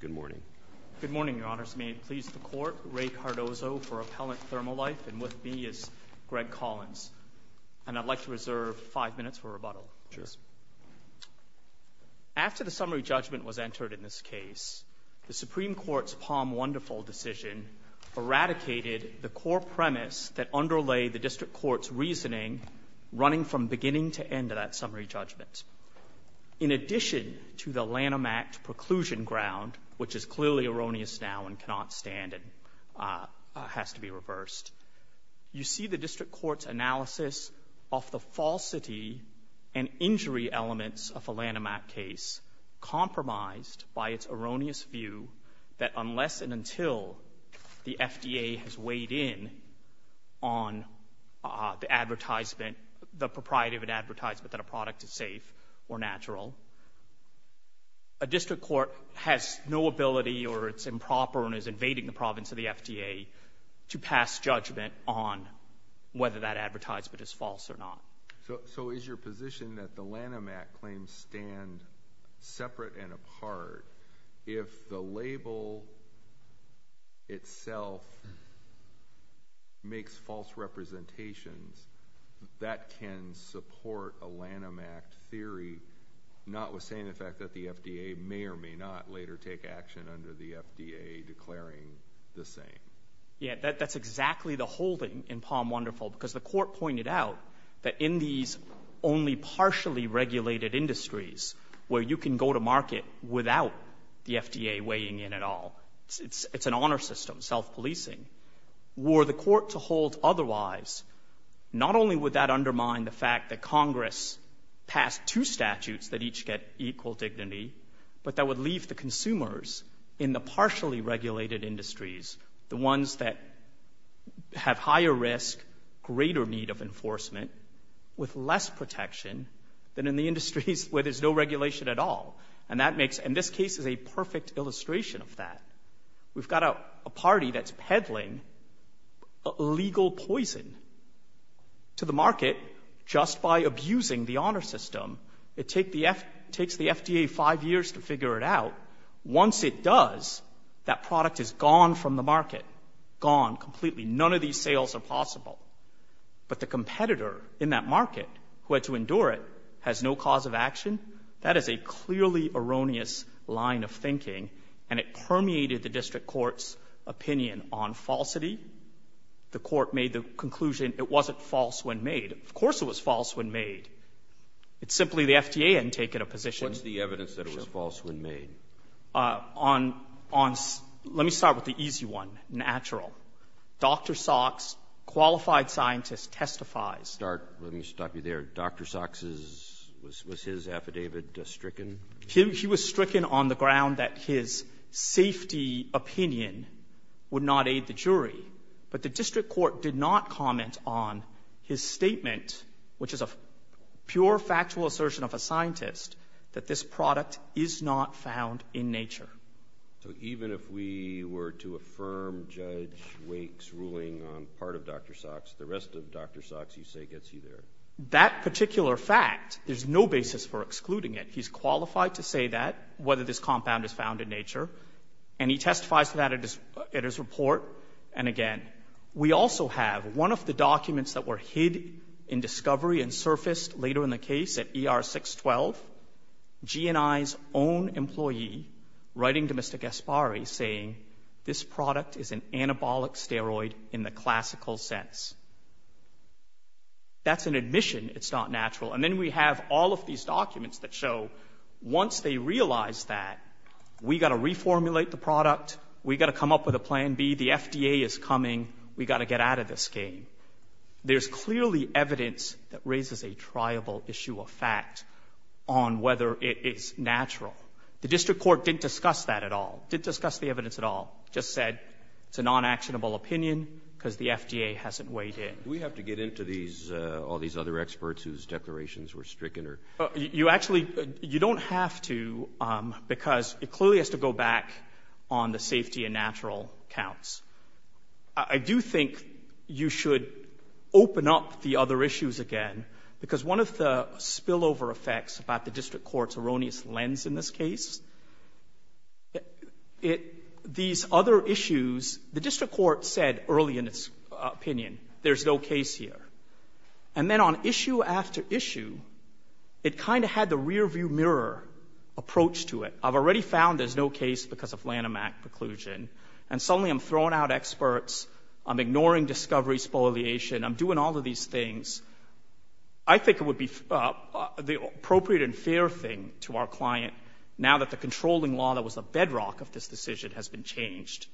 Good morning. Good morning, Your Honors. May it please the Court, Ray Cardozo for Appellant ThermoLife, and with me is Greg Collins. And I'd like to reserve five minutes for rebuttal. Sure. After the summary judgment was entered in this case, the Supreme Court's Palm Wonderful decision eradicated the core premise that underlay the District Court's reasoning running from beginning to end of that summary judgment. In addition to the Lanham Act preclusion ground, which is clearly erroneous now and cannot stand and has to be reversed, you see the District Court's analysis of the falsity and injury elements of a Lanham Act case compromised by its erroneous view that unless and until the FDA has weighed in on the advertisement, the propriety of an advertisement that a product is safe or natural, a District Court has no ability or it's improper and is invading the province of the FDA to pass judgment on whether that advertisement is false or not. So is your position that the Lanham Act claims stand separate and apart if the label itself makes false representations that can support a Lanham Act theory, notwithstanding the fact that the FDA may or may not later take action under the FDA declaring the same? Yeah, that's exactly the whole thing in Palm Wonderful, because the Court pointed out that in these only partially regulated industries where you can go to market without the FDA weighing in at all, it's an honor system, self-policing, were the Court to hold otherwise, not only would that undermine the fact that Congress passed two statutes that each get equal dignity, but that would leave the consumers in the partially regulated industries, the with less protection than in the industries where there's no regulation at all. And that makes, and this case is a perfect illustration of that. We've got a party that's peddling legal poison to the market just by abusing the honor system. It takes the FDA five years to figure it out. Once it does, that product is gone from the market, gone completely. None of these sales are possible. But the competitor in that market, who had to endure it, has no cause of action. That is a clearly erroneous line of thinking, and it permeated the District Court's opinion on falsity. The Court made the conclusion it wasn't false when made. Of course it was false when made. It's simply the FDA hadn't taken a position. What's the evidence that it was false when made? Let me start with the easy one, natural. Dr. Sox, qualified scientist, testifies. Start, let me stop you there. Dr. Sox's, was his affidavit stricken? He was stricken on the ground that his safety opinion would not aid the jury. But the District Court did not comment on his statement, which is a pure factual assertion of a scientist, that this product is not found in nature. So even if we were to affirm Judge Wake's ruling on part of Dr. Sox, the rest of Dr. Sox, you say, gets you there? That particular fact, there's no basis for excluding it. He's qualified to say that, whether this compound is found in nature. And he testifies to that at his report. And again, we also have one of the documents that were hid in discovery and surfaced later in the case at ER 612, GNI's own employee writing to Mr. Gasparri saying, this product is an anabolic steroid in the classical sense. That's an admission, it's not natural. And then we have all of these documents that show, once they realize that, we got to reformulate the product, we got to come up with a plan B, the FDA is coming, we got to get out of this game. There's clearly evidence that raises a triable issue of fact on whether it is natural. The district court didn't discuss that at all, didn't discuss the evidence at all. Just said, it's a non-actionable opinion, because the FDA hasn't weighed in. Do we have to get into these, all these other experts whose declarations were stricken? You actually, you don't have to, because it clearly has to go back on the safety and natural counts. I do think you should open up the other issues again, because one of the spillover effects about the district court's erroneous lens in this case, these other issues, the district court said early in its opinion, there's no case here. And then on issue after issue, it kind of had the rear view mirror approach to it. I've already found there's no case because of Lanham Act preclusion, and suddenly I'm throwing out experts, I'm ignoring discovery spoliation, I'm doing all of these things. I think it would be the appropriate and fair thing to our client, now that the controlling law that was a bedrock of this decision has been changed,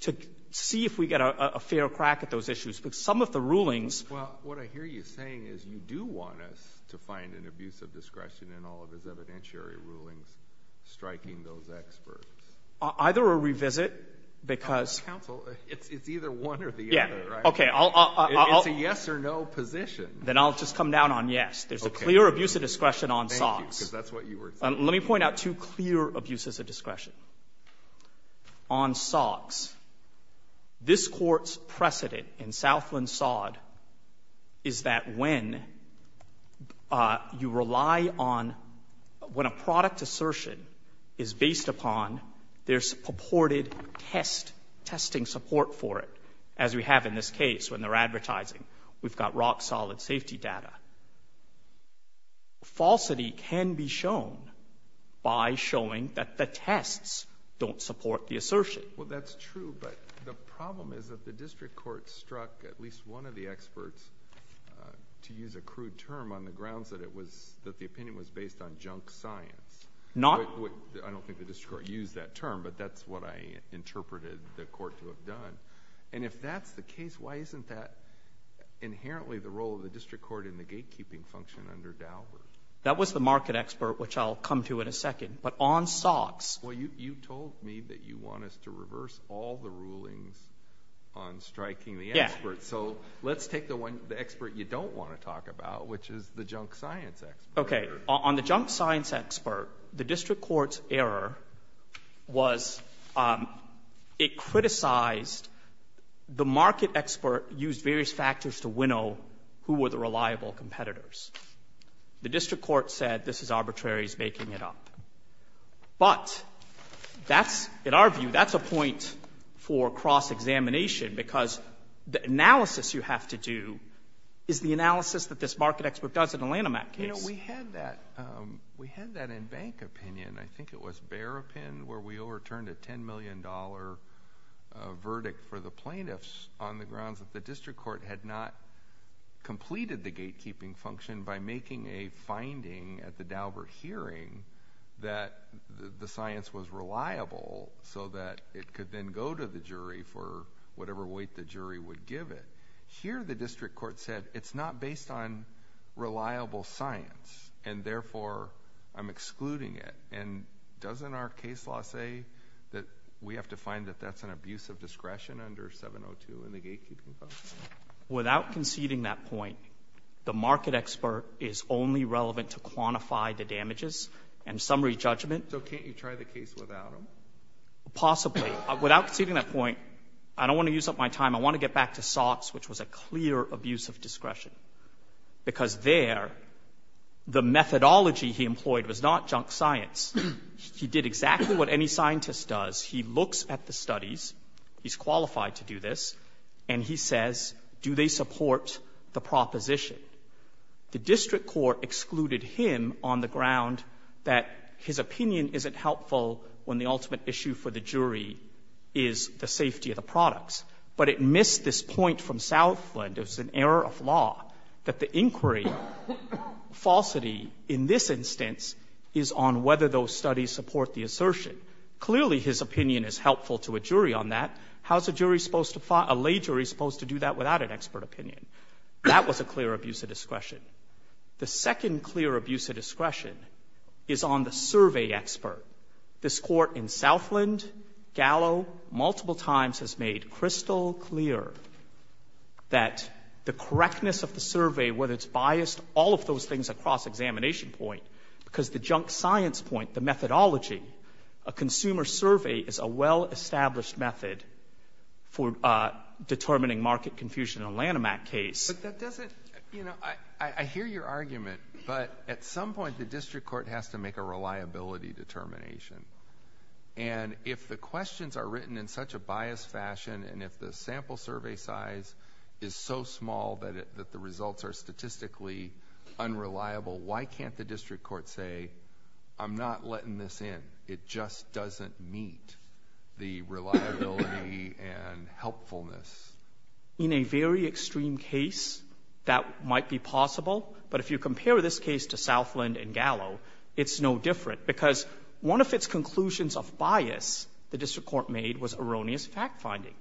to see if we get a fair crack at those issues. Because some of the rulings— Well, what I hear you saying is you do want us to find an abuse of discretion in all of his evidentiary rulings striking those experts. Either a revisit, because— Counsel, it's either one or the other, right? Yeah. Okay, I'll— It's a yes or no position. Then I'll just come down on yes. Okay. There's a clear abuse of discretion on SOGS. Thank you, because that's what you were saying. Let me point out two clear abuses of discretion. On SOGS, this court's precedent in Southland SOD is that when you rely on—when a product assertion is based upon their purported test, testing support for it, as we have in this case when they're advertising, we've got rock-solid safety data, falsity can be shown by showing that the tests don't support the assertion. Well, that's true, but the problem is that the district court struck at least one of the experts, to use a crude term, on the grounds that it was—that the opinion was based on I don't think the district court used that term, but that's what I interpreted the court to have done. And if that's the case, why isn't that inherently the role of the district court in the gatekeeping function under Dalbert? That was the market expert, which I'll come to in a second. But on SOGS— Well, you told me that you want us to reverse all the rulings on striking the expert. So let's take the one—the expert you don't want to talk about, which is the junk science expert. Okay. On the junk science expert, the district court's error was it criticized the market expert used various factors to winnow who were the reliable competitors. The district court said this is arbitrary, he's making it up. But that's—in our view, that's a point for cross-examination, because the analysis you have to do is the analysis that this market expert does in a Lanham Act case. You know, we had that—we had that in bank opinion, I think it was Bear Opin, where we overturned a $10 million verdict for the plaintiffs on the grounds that the district court had not completed the gatekeeping function by making a finding at the Dalbert hearing that the science was reliable so that it could then go to the jury for whatever weight the jury would give it. Here the district court said it's not based on reliable science, and therefore, I'm excluding it. And doesn't our case law say that we have to find that that's an abuse of discretion under 702 in the gatekeeping function? Without conceding that point, the market expert is only relevant to quantify the damages and summary judgment. So can't you try the case without him? Possibly. Without conceding that point, I don't want to use up my time. I want to get back to Sotts, which was a clear abuse of discretion. Because there, the methodology he employed was not junk science. He did exactly what any scientist does. He looks at the studies—he's qualified to do this—and he says, do they support the proposition? The district court excluded him on the ground that his opinion isn't helpful when the ultimate issue for the jury is the safety of the products. But it missed this point from Southland, it was an error of law, that the inquiry falsity in this instance is on whether those studies support the assertion. Clearly his opinion is helpful to a jury on that. How's a jury supposed to—a lay jury supposed to do that without an expert opinion? That was a clear abuse of discretion. The second clear abuse of discretion is on the survey expert. This Court in Southland, Gallo, multiple times has made crystal clear that the correctness of the survey, whether it's biased, all of those things are cross-examination point. Because the junk science point, the methodology, a consumer survey is a well-established method for determining market confusion in a Lanham Act case. But that doesn't—you know, I hear your argument, but at some point the district court has to make a reliability determination. And if the questions are written in such a biased fashion, and if the sample survey size is so small that the results are statistically unreliable, why can't the district court say, I'm not letting this in, it just doesn't meet the reliability and helpfulness? In a very extreme case, that might be possible. But if you compare this case to Southland and Gallo, it's no different. Because one of its conclusions of bias the district court made was erroneous fact-finding.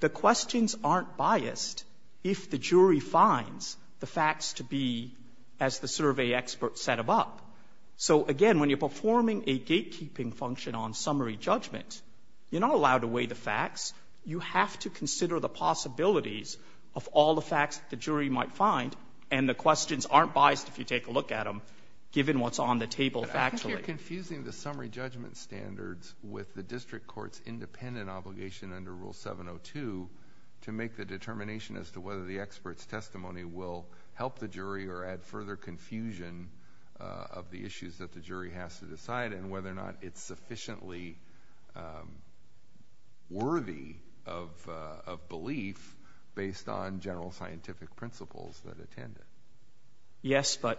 The questions aren't biased if the jury finds the facts to be as the survey expert set them up. So again, when you're performing a gatekeeping function on summary judgment, you're not allowed to weigh the facts. You have to consider the possibilities of all the facts the jury might find and the questions aren't biased if you take a look at them, given what's on the table factually. I think you're confusing the summary judgment standards with the district court's independent obligation under Rule 702 to make the determination as to whether the expert's testimony will help the jury or add further confusion of the issues that the jury has to decide and whether or not it's sufficiently worthy of belief based on general scientific principles that attend it. Yes, but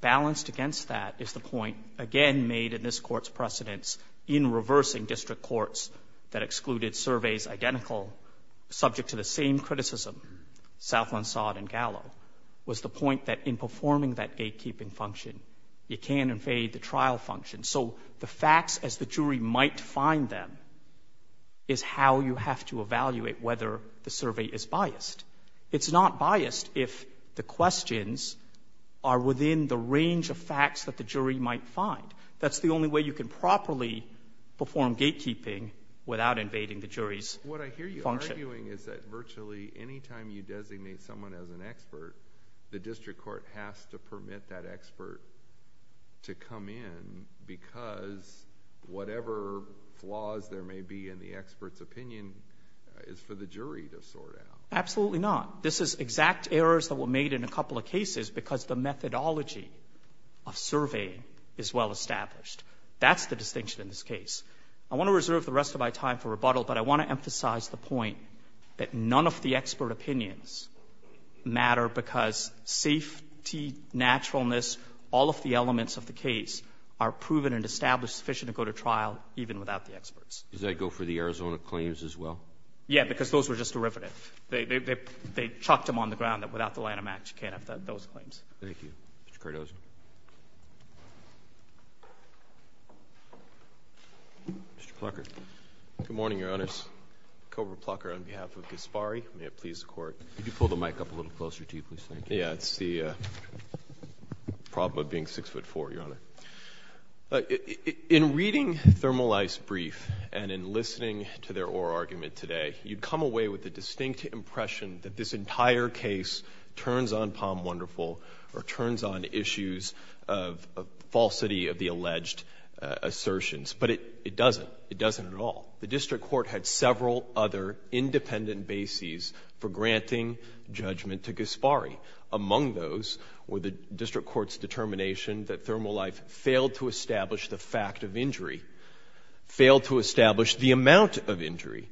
balanced against that is the point, again, made in this Court's precedence in reversing district courts that excluded surveys identical, subject to the same criticism, Southland, Sodd, and Gallo, was the point that in performing that gatekeeping function, you can evade the trial function. So the facts as the jury might find them is how you have to evaluate whether the survey is biased. It's not biased if the questions are within the range of facts that the jury might find. That's the only way you can properly perform gatekeeping without invading the jury's function. What I hear you arguing is that virtually any time you designate someone as an expert, the district court has to permit that expert to come in because whatever flaws there may be in the expert's opinion is for the jury to sort out. Absolutely not. This is exact errors that were made in a couple of cases because the methodology of surveying is well established. That's the distinction in this case. I want to reserve the rest of my time for rebuttal, but I want to emphasize the point that none of the expert opinions matter because safety, naturalness, all of the elements of the case are proven and established sufficient to go to trial even without the experts. Does that go for the Arizona claims as well? Yeah, because those were just derivative. They chucked them on the ground that without the line of match, you can't have those claims. Thank you. Mr. Cardozo. Mr. Plucker. Good morning, Your Honors. Cobra Plucker on behalf of Gasparri. May it please the Court. Could you pull the mic up a little closer to you, please? Thank you. Yeah, it's the problem of being 6'4", Your Honor. Thank you. In reading Thermalife's brief and in listening to their oral argument today, you'd come away with the distinct impression that this entire case turns on Palm Wonderful or turns on issues of falsity of the alleged assertions, but it doesn't. It doesn't at all. The district court had several other independent bases for granting judgment to Gasparri. Among those were the district court's determination that Thermalife failed to establish the fact of injury, failed to establish the amount of injury,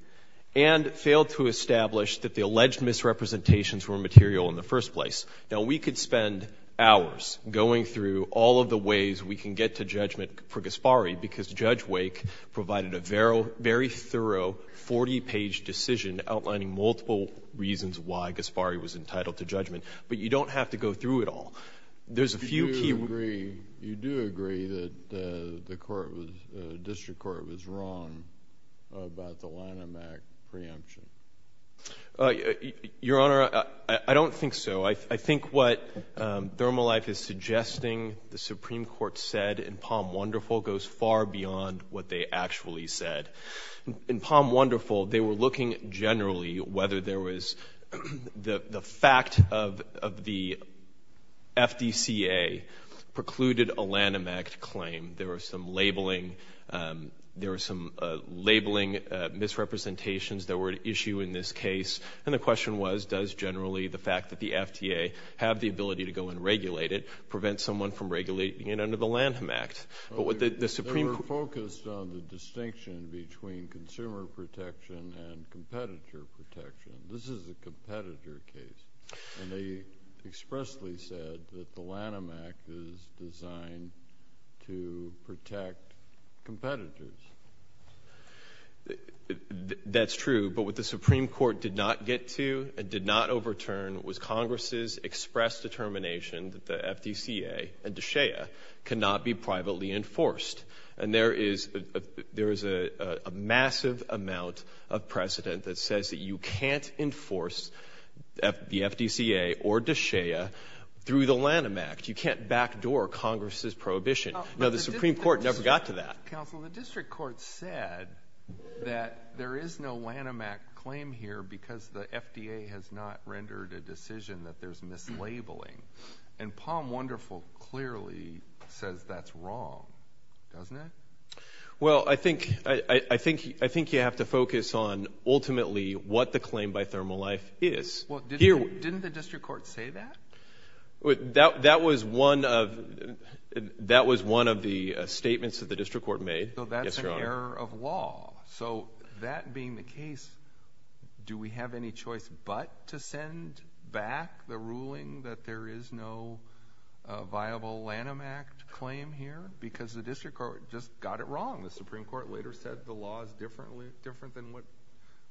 and failed to establish that the alleged misrepresentations were material in the first place. Now, we could spend hours going through all of the ways we can get to judgment for Gasparri because Judge Wake provided a very thorough 40-page decision outlining multiple reasons why Gasparri was entitled to judgment, but you don't have to go through it all. There's a few key... You do agree that the district court was wrong about the Lanham Act preemption? Your Honor, I don't think so. I think what Thermalife is suggesting the Supreme Court said in Palm Wonderful goes far beyond what they actually said. In Palm Wonderful, they were looking generally whether there was the fact of the FDCA precluded a Lanham Act claim. There were some labeling misrepresentations that were at issue in this case, and the question was does generally the fact that the FDA have the ability to go and regulate it prevent someone from regulating it under the Lanham Act? They were focused on the distinction between consumer protection and competitor protection. This is a competitor case, and they expressly said that the Lanham Act is designed to protect competitors. That's true, but what the Supreme Court did not get to and did not overturn was Congress's express determination that the FDCA and DSHEA cannot be privately enforced. There is a massive amount of precedent that says that you can't enforce the FDCA or DSHEA through the Lanham Act. You can't backdoor Congress's prohibition. No, the Supreme Court never got to that. Counsel, the district court said that there is no Lanham Act claim here because the FDA has not rendered a decision that there's mislabeling, and Palm Wonderful clearly says that's wrong, doesn't it? Well, I think you have to focus on ultimately what the claim by Thermal Life is. Well, didn't the district court say that? That was one of the statements that the district court made. Yes, Your Honor. So that's an error of law. So that being the case, do we have any choice but to send back the ruling that there is no viable Lanham Act claim here? Because the district court just got it wrong. The Supreme Court later said the law is different than what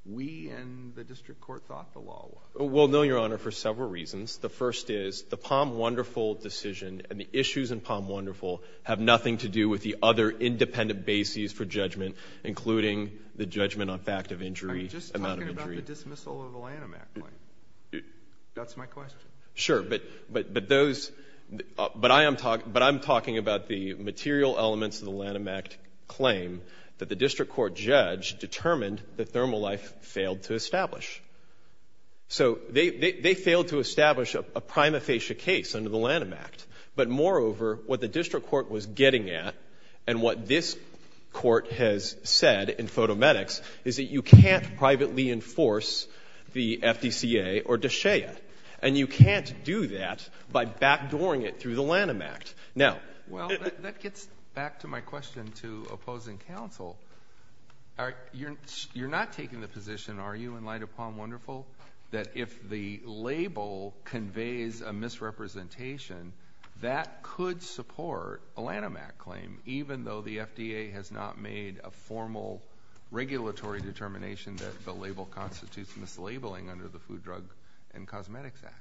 we and the district court thought the law was. Well, no, Your Honor, for several reasons. The first is the Palm Wonderful decision and the issues in Palm Wonderful have nothing to do with the other independent bases for judgment, including the judgment on fact of injury, amount of injury. I mean, just talking about the dismissal of the Lanham Act claim, that's my question. Sure, but I'm talking about the material elements of the Lanham Act claim that the district court judge determined that Thermal Life failed to establish. So they failed to establish a prima facie case under the Lanham Act, but moreover, what the district court was getting at and what this court has said in Photometrics is that you can't privately enforce the FDCA or DSHEA, and you can't do that by backdooring it through the Lanham Act. Now— Well, that gets back to my question to opposing counsel. You're not taking the position, are you, in light of Palm Wonderful, that if the label conveys a misrepresentation, that could support a Lanham Act claim, even though the FDA has not made a formal regulatory determination that the label constitutes mislabeling under the Food, Drug, and Cosmetics Act?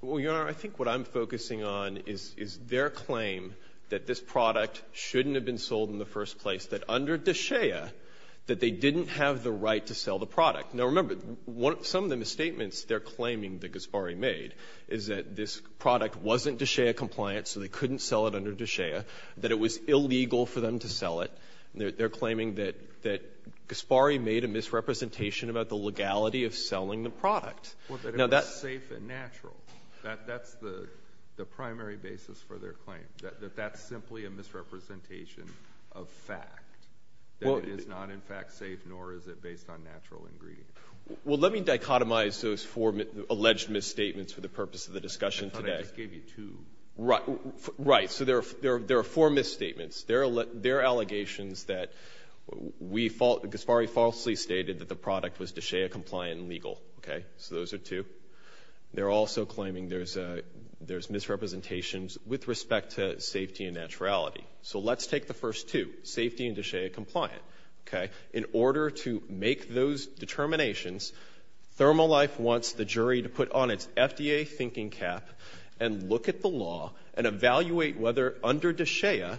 Well, Your Honor, I think what I'm focusing on is their claim that this product shouldn't have been sold in the first place, that under DSHEA, that they didn't have the right to sell the product. Now, remember, some of the misstatements they're claiming that Ghasparri made is that this product wasn't DSHEA compliant, so they couldn't sell it under DSHEA, that it was illegal for them to sell it, and they're claiming that Ghasparri made a misrepresentation about the legality of selling the product. Well, that it was safe and natural. That's the primary basis for their claim, that that's simply a misrepresentation of Well, let me dichotomize those four alleged misstatements for the purpose of the discussion today. I thought I just gave you two. Right. Right. So there are four misstatements. There are allegations that Ghasparri falsely stated that the product was DSHEA-compliant and legal. Okay? So those are two. They're also claiming there's misrepresentations with respect to safety and naturality. So let's take the first two, safety and DSHEA-compliant. Okay? In order to make those determinations, ThermoLife wants the jury to put on its FDA thinking cap and look at the law and evaluate whether, under DSHEA,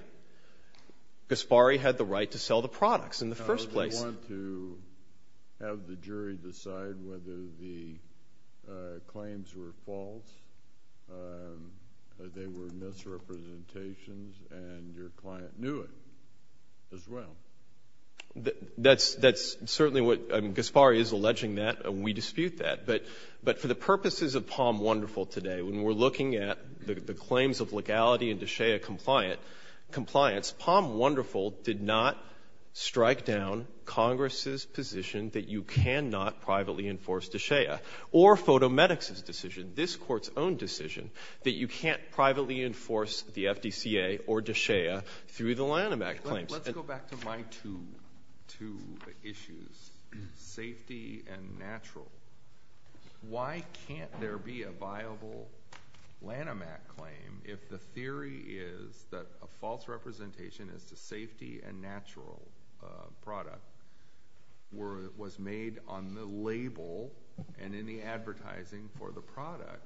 Ghasparri had the right to sell the products in the first place. Do you want to have the jury decide whether the claims were false, that they were misrepresentations, and your client knew it as well? That's certainly what Ghasparri is alleging that. We dispute that. But for the purposes of Palm Wonderful today, when we're looking at the claims of legality and DSHEA-compliance, Palm Wonderful did not strike down Congress's position that you cannot privately enforce DSHEA. Or Fotomedics' decision, this Court's own decision, that you can't privately enforce the FDCA or DSHEA through the Lanham Act claims. Let's go back to my two issues, safety and natural. Why can't there be a viable Lanham Act claim if the theory is that a false representation as to safety and natural product was made on the label and in the advertising for the product?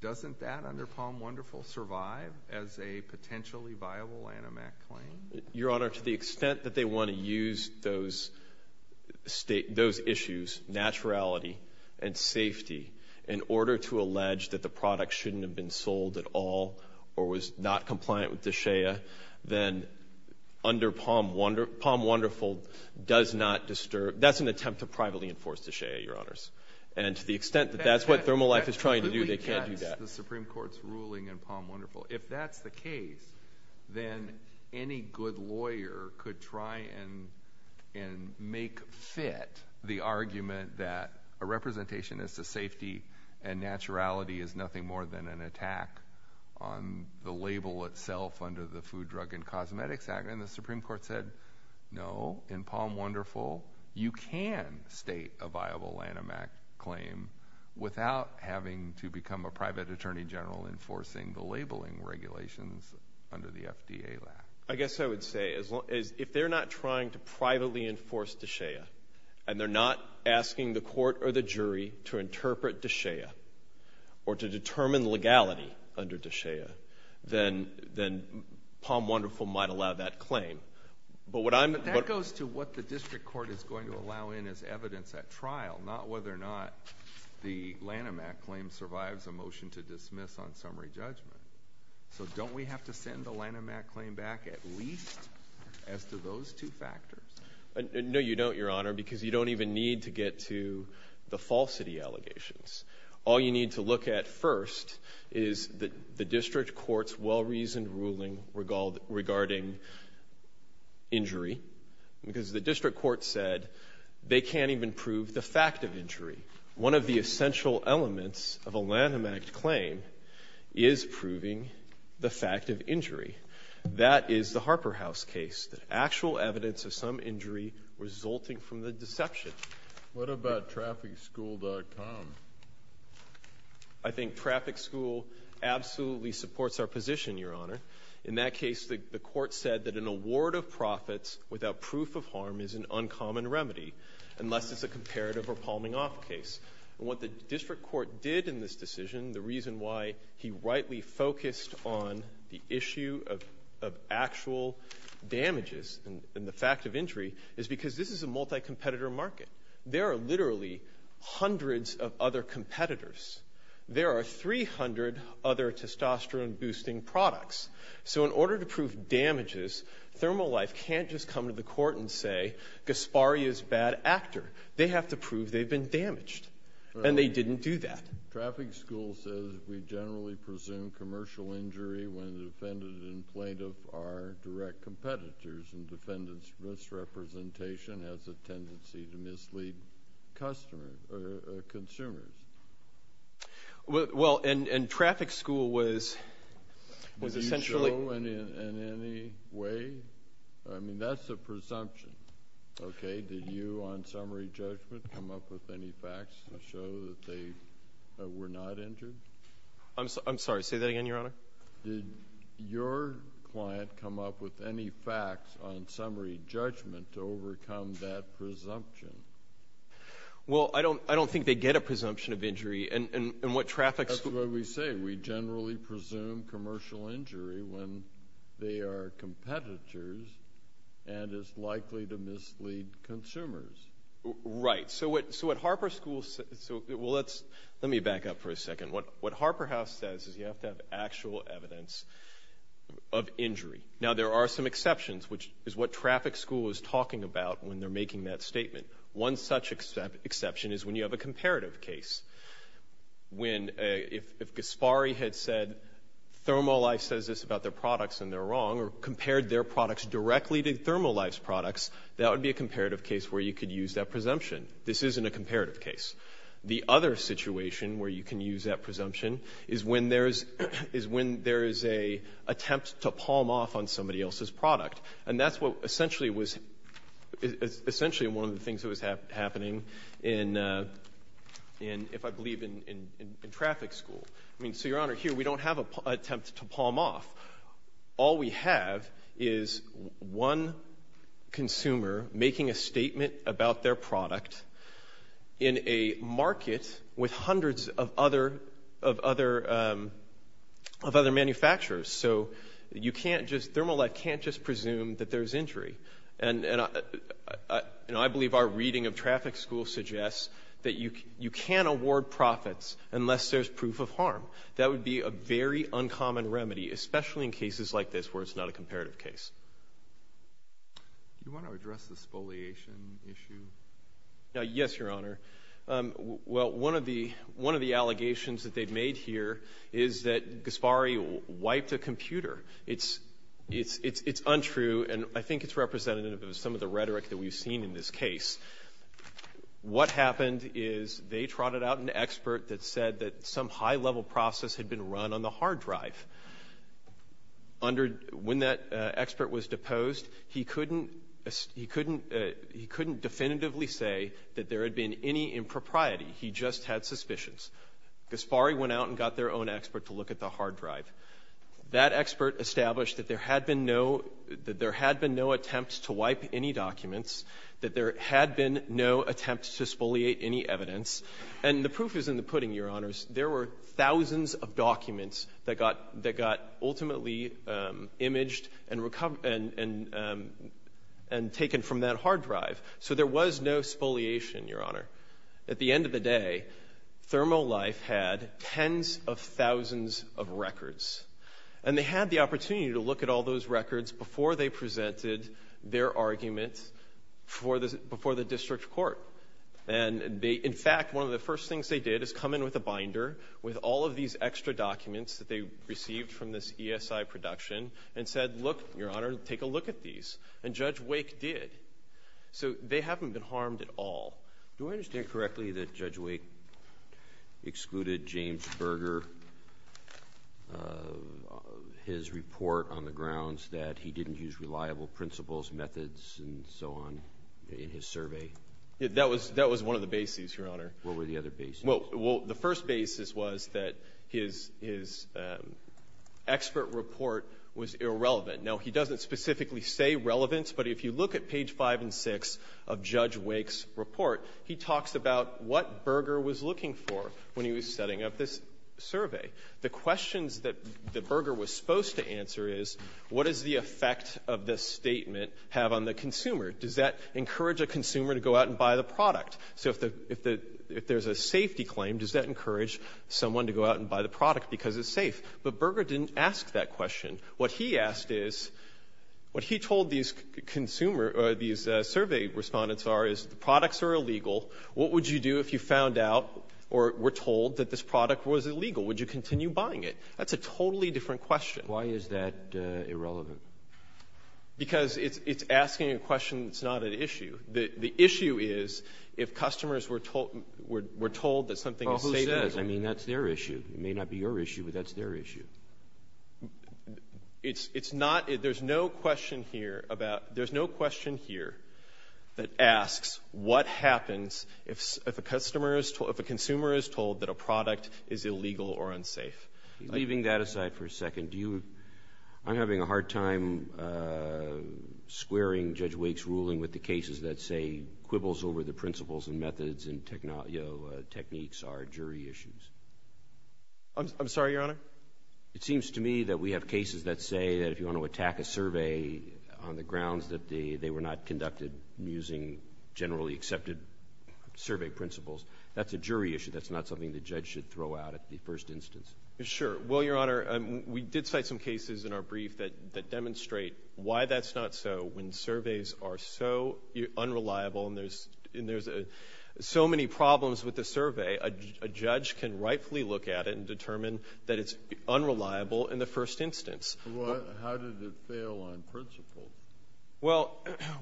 Doesn't that, under Palm Wonderful, survive as a potentially viable Lanham Act claim? Your Honor, to the extent that they want to use those issues, naturality and safety, in order to allege that the product shouldn't have been sold at all or was not compliant with DSHEA, then under Palm Wonderful, that's an attempt to privately enforce DSHEA, Your Honors. And to the extent that that's what Thermalife is trying to do, they can't do that. That's the Supreme Court's ruling in Palm Wonderful. If that's the case, then any good lawyer could try and make fit the argument that a representation as to safety and naturality is nothing more than an attack on the label itself under the Food, Drug, and Cosmetics Act. And the Supreme Court said, no, in Palm Wonderful, you can state a viable Lanham Act claim without having to become a private attorney general enforcing the labeling regulations under the FDA Act. I guess I would say, if they're not trying to privately enforce DSHEA, and they're not asking the court or the jury to interpret DSHEA or to determine legality under DSHEA, then Palm Wonderful might allow that claim. But what I'm— That goes to what the district court is going to allow in as evidence at trial, not whether or not the Lanham Act claim survives a motion to dismiss on summary judgment. So don't we have to send the Lanham Act claim back at least as to those two factors? No, you don't, Your Honor, because you don't even need to get to the falsity allegations. All you need to look at first is the district court's well-reasoned ruling regarding injury, because the district court said they can't even prove the fact of injury. One of the essential elements of a Lanham Act claim is proving the fact of injury. That is the Harper House case, the actual evidence of some injury resulting from the deception. What about TrafficSchool.com? I think Traffic School absolutely supports our position, Your Honor. In that case, the court said that an award of profits without proof of harm is an uncommon remedy unless it's a comparative or palming-off case. What the district court did in this decision, the reason why he rightly focused on the issue of actual damages and the fact of injury, is because this is a multi-competitor market. There are literally hundreds of other competitors. There are 300 other testosterone-boosting products. So in order to prove damages, Thermal Life can't just come to the court and say, Gasparri is a bad actor. They have to prove they've been damaged. And they didn't do that. Traffic School says we generally presume commercial injury when the defendant and plaintiff are direct competitors, and defendant's misrepresentation has a tendency to mislead consumers. Well, and Traffic School was essentially... Do you show in any way? I mean, that's a presumption. Okay? Did you, on summary judgment, come up with any facts to show that they were not injured? I'm sorry. Say that again, Your Honor. Did your client come up with any facts on summary judgment to overcome that presumption? Well, I don't think they get a presumption of injury. And what Traffic School... That's what we say. We generally presume commercial injury when they are competitors and is likely to mislead consumers. Right. So what Harper School... Well, let me back up for a second. What Harper House says is you have to have actual evidence of injury. Now there are some exceptions, which is what Traffic School is talking about when they're making that statement. One such exception is when you have a comparative case. If Gaspari had said ThermoLife says this about their products and they're wrong, or compared their products directly to ThermoLife's products, that would be a comparative case where you could use that presumption. This isn't a comparative case. The other situation where you can use that presumption is when there is an attempt to palm off on somebody else's product. And that's essentially one of the things that was happening in, if I believe, in Traffic School. I mean, so Your Honor, here we don't have an attempt to palm off. All we have is one consumer making a statement about their product in a market with hundreds of other manufacturers. So you can't just, ThermoLife can't just presume that there's injury. And I believe our reading of Traffic School suggests that you can award profits unless there's proof of harm. That would be a very uncommon remedy, especially in cases like this where it's not a comparative case. Do you want to address the spoliation issue? Yes, Your Honor. Well, one of the allegations that they've made here is that Gaspari wiped a computer. It's untrue, and I think it's representative of some of the rhetoric that we've seen in this case. What happened is they trotted out an expert that said that some high-level process had been run on the hard drive. When that expert was deposed, he couldn't definitively say that there had been any impropriety. He just had suspicions. Gaspari went out and got their own expert to look at the hard drive. That expert established that there had been no attempts to wipe any documents, that there had been no attempts to spoliate any evidence. And the proof is in the pudding, Your Honors. There were thousands of documents that got ultimately imaged and taken from that hard drive. So there was no spoliation, Your Honor. At the end of the day, ThermoLife had tens of thousands of records. And they had the opportunity to look at all those records before they presented their argument before the district court. And in fact, one of the first things they did is come in with a binder with all of these extra documents that they received from this ESI production and said, look, Your Honor, take a look at these. And Judge Wake did. So they haven't been harmed at all. Do I understand correctly that Judge Wake excluded James Berger, his report on the grounds that he didn't use reliable principles, methods, and so on in his survey? That was one of the bases, Your Honor. What were the other bases? Well, the first basis was that his expert report was irrelevant. Now, he doesn't specifically say relevance, but if you look at page 5 and 6 of Judge Wake's report, he talks about what Berger was looking for when he was setting up this survey. The questions that Berger was supposed to answer is, what does the effect of this statement have on the consumer? Does that encourage a consumer to go out and buy the product? So if there's a safety claim, does that encourage someone to go out and buy the product because it's safe? But Berger didn't ask that question. What he asked is, what he told these survey respondents are is, the products are illegal. What would you do if you found out or were told that this product was illegal? Would you continue buying it? That's a totally different question. Why is that irrelevant? Because it's asking a question that's not an issue. The issue is if customers were told that something is safe. Well, who says? I mean, that's their issue. It may not be your issue, but that's their issue. It's not – there's no question here about – there's no question here that asks what happens if a customer is – if a consumer is told that a product is illegal or unsafe. Leaving that aside for a second, do you – I'm having a hard time squaring Judge Wake's ruling with the cases that say quibbles over the principles and methods and techniques are jury issues. I'm sorry, Your Honor? It seems to me that we have cases that say that if you want to attack a survey on the grounds that they were not conducted using generally accepted survey principles, that's a jury issue. That's not something the judge should throw out at the first instance. Sure. Well, Your Honor, we did cite some cases in our brief that demonstrate why that's not so. When surveys are so unreliable and there's so many problems with the survey, a judge can rightfully look at it and determine that it's unreliable in the first instance. Well, how did it fail on principle? Well,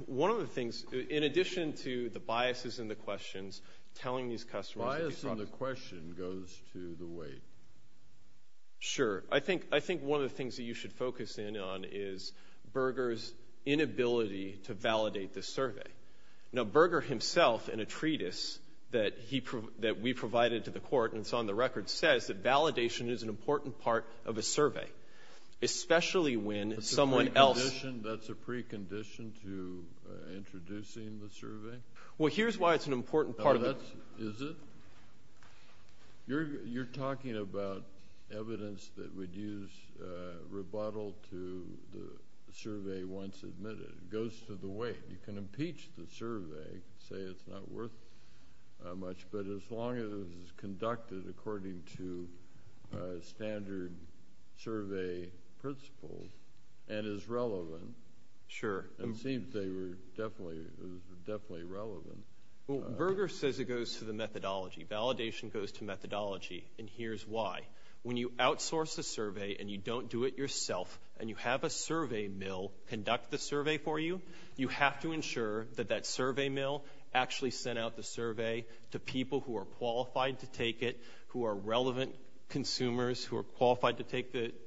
one of the things – in addition to the biases in the questions telling these questions – Bias in the question goes to the weight. Sure. I think one of the things that you should focus in on is Berger's inability to validate the survey. Now, Berger himself, in a treatise that we provided to the court and it's on the record, says that validation is an important part of a survey, especially when someone else – That's a precondition to introducing the survey? Well, here's why it's an important part of the – Well, that's – is it? You're talking about evidence that would use rebuttal to the survey once admitted. It goes to the weight. You can impeach the survey, say it's not worth much, but as long as it's conducted according to standard survey principles and is relevant – Sure. – it seems they were definitely relevant. Well, Berger says it goes to the methodology. Validation goes to methodology, and here's why. When you outsource a survey and you don't do it yourself and you have a survey mill conduct the survey for you, you have to ensure that that survey mill actually sent out the survey to people who are qualified to take it, who are relevant consumers, who are qualified to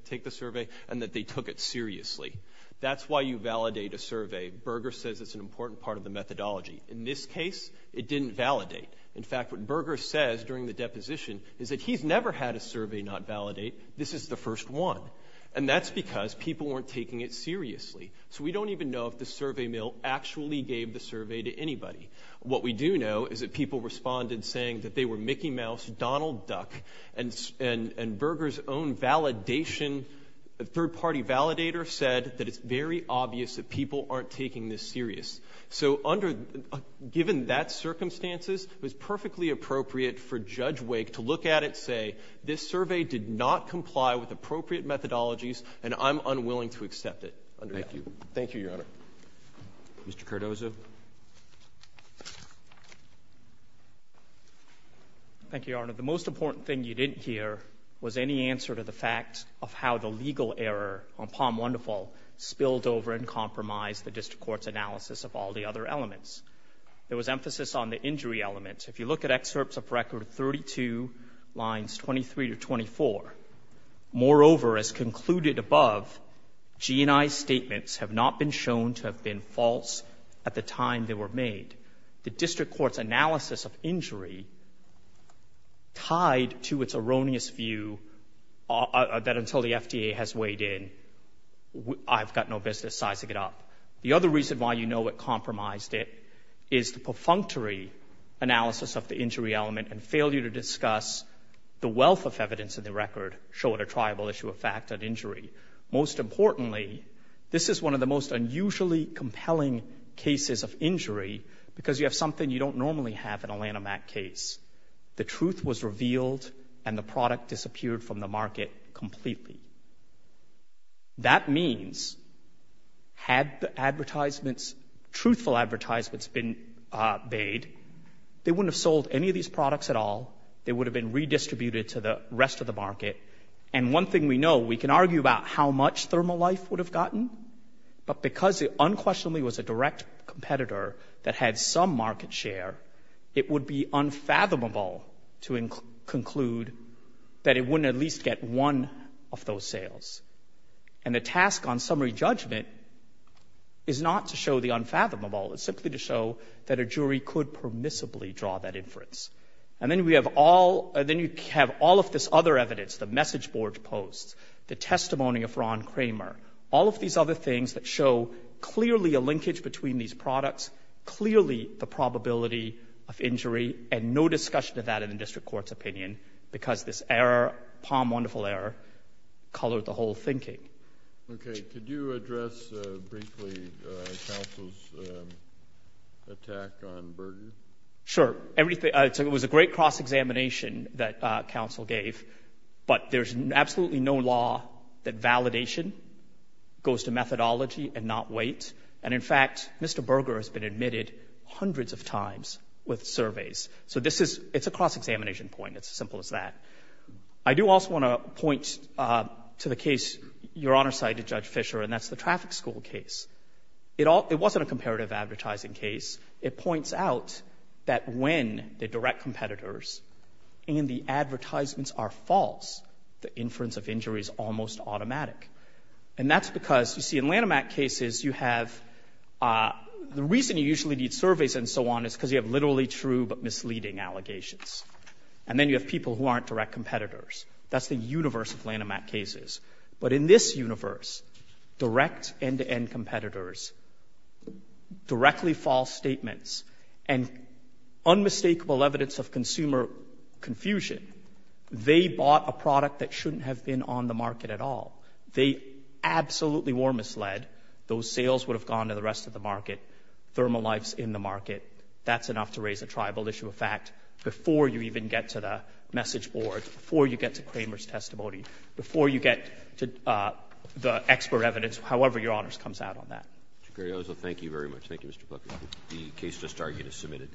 take the survey, and that they took it seriously. That's why you validate a survey. Berger says it's an important part of the methodology. In this case, it didn't validate. In fact, what Berger says during the deposition is that he's never had a survey not validate. This is the first one, and that's because people weren't taking it seriously. So we don't even know if the survey mill actually gave the survey to anybody. What we do know is that people responded saying that they were Mickey Mouse, Donald Duck, and Berger's own validation – third-party validator said that it's very obvious that people aren't taking this serious. So given that circumstances, it was perfectly appropriate for Judge Wake to look at it and say, this survey did not comply with appropriate methodologies, and I'm unwilling to accept it. Thank you. Thank you, Your Honor. Mr. Cardozo. Thank you, Your Honor. The most important thing you didn't hear was any answer to the fact of how the legal error on Palm Wonderful spilled over and compromised the district court's analysis of all the other elements. There was emphasis on the injury element. If you look at excerpts of Record 32, lines 23 to 24, moreover, as concluded above, G&I's statements have not been shown to have been false at the time they were made. court's analysis of injury tied to its erroneous view that until the FDA has weighed in, I've got no business sizing it up. The other reason why you know it compromised it is the perfunctory analysis of the injury element and failure to discuss the wealth of evidence in the record show a triable issue of fact on injury. Most importantly, this is one of the most unusually compelling cases of injury because you have something you don't normally have in a Lanham Act case. The truth was revealed and the product disappeared from the market completely. That means had the advertisements, truthful advertisements, been made, they wouldn't have sold any of these products at all. They would have been redistributed to the rest of the market. One thing we know, we can argue about how much thermal life would have gotten, but because it unquestionably was a direct competitor that had some market share, it would be unfathomable to conclude that it wouldn't at least get one of those sales. The task on summary judgment is not to show the unfathomable. It's simply to show that a jury could permissibly draw that inference. Then you have all of this other evidence, the message board posts, the testimony of Ron Kramer, all of these other things that show clearly a linkage between these products, clearly the probability of injury, and no discussion of that in the district court's opinion because this error, POM wonderful error, colored the whole thinking. Okay, could you address briefly counsel's attack on Burgess? Sure. It was a great cross-examination that counsel gave, but there's absolutely no law that validation goes to methodology and not weight. In fact, Mr. Burger has been admitted hundreds of times with surveys. It's a cross-examination point. It's as simple as that. I do also want to point to the case your Honor cited, Judge Fischer, and that's the traffic school case. It wasn't a comparative advertising case. It points out that when the direct competitors and the advertisements are false, the inference of injury is almost automatic. And that's because, you see, in Lanham Act cases you have, the reason you usually need surveys and so on is because you have literally true but misleading allegations. And then you have people who aren't direct competitors. That's the universe of Lanham Act cases. But in this universe, direct end-to-end competitors, directly false statements, and unmistakable evidence of consumer confusion, they bought a product that shouldn't have been on the market at all. They absolutely were misled. Those sales would have gone to the rest of the market. Thermalife's in the market. That's enough to raise a tribal issue of fact before you even get to the message board, before you get to Kramer's testimony, before you get to the expert evidence, however your Honors comes out on that. Mr. Cariozzo, thank you very much. Thank you, Mr. Booker. The case just argued is submitted.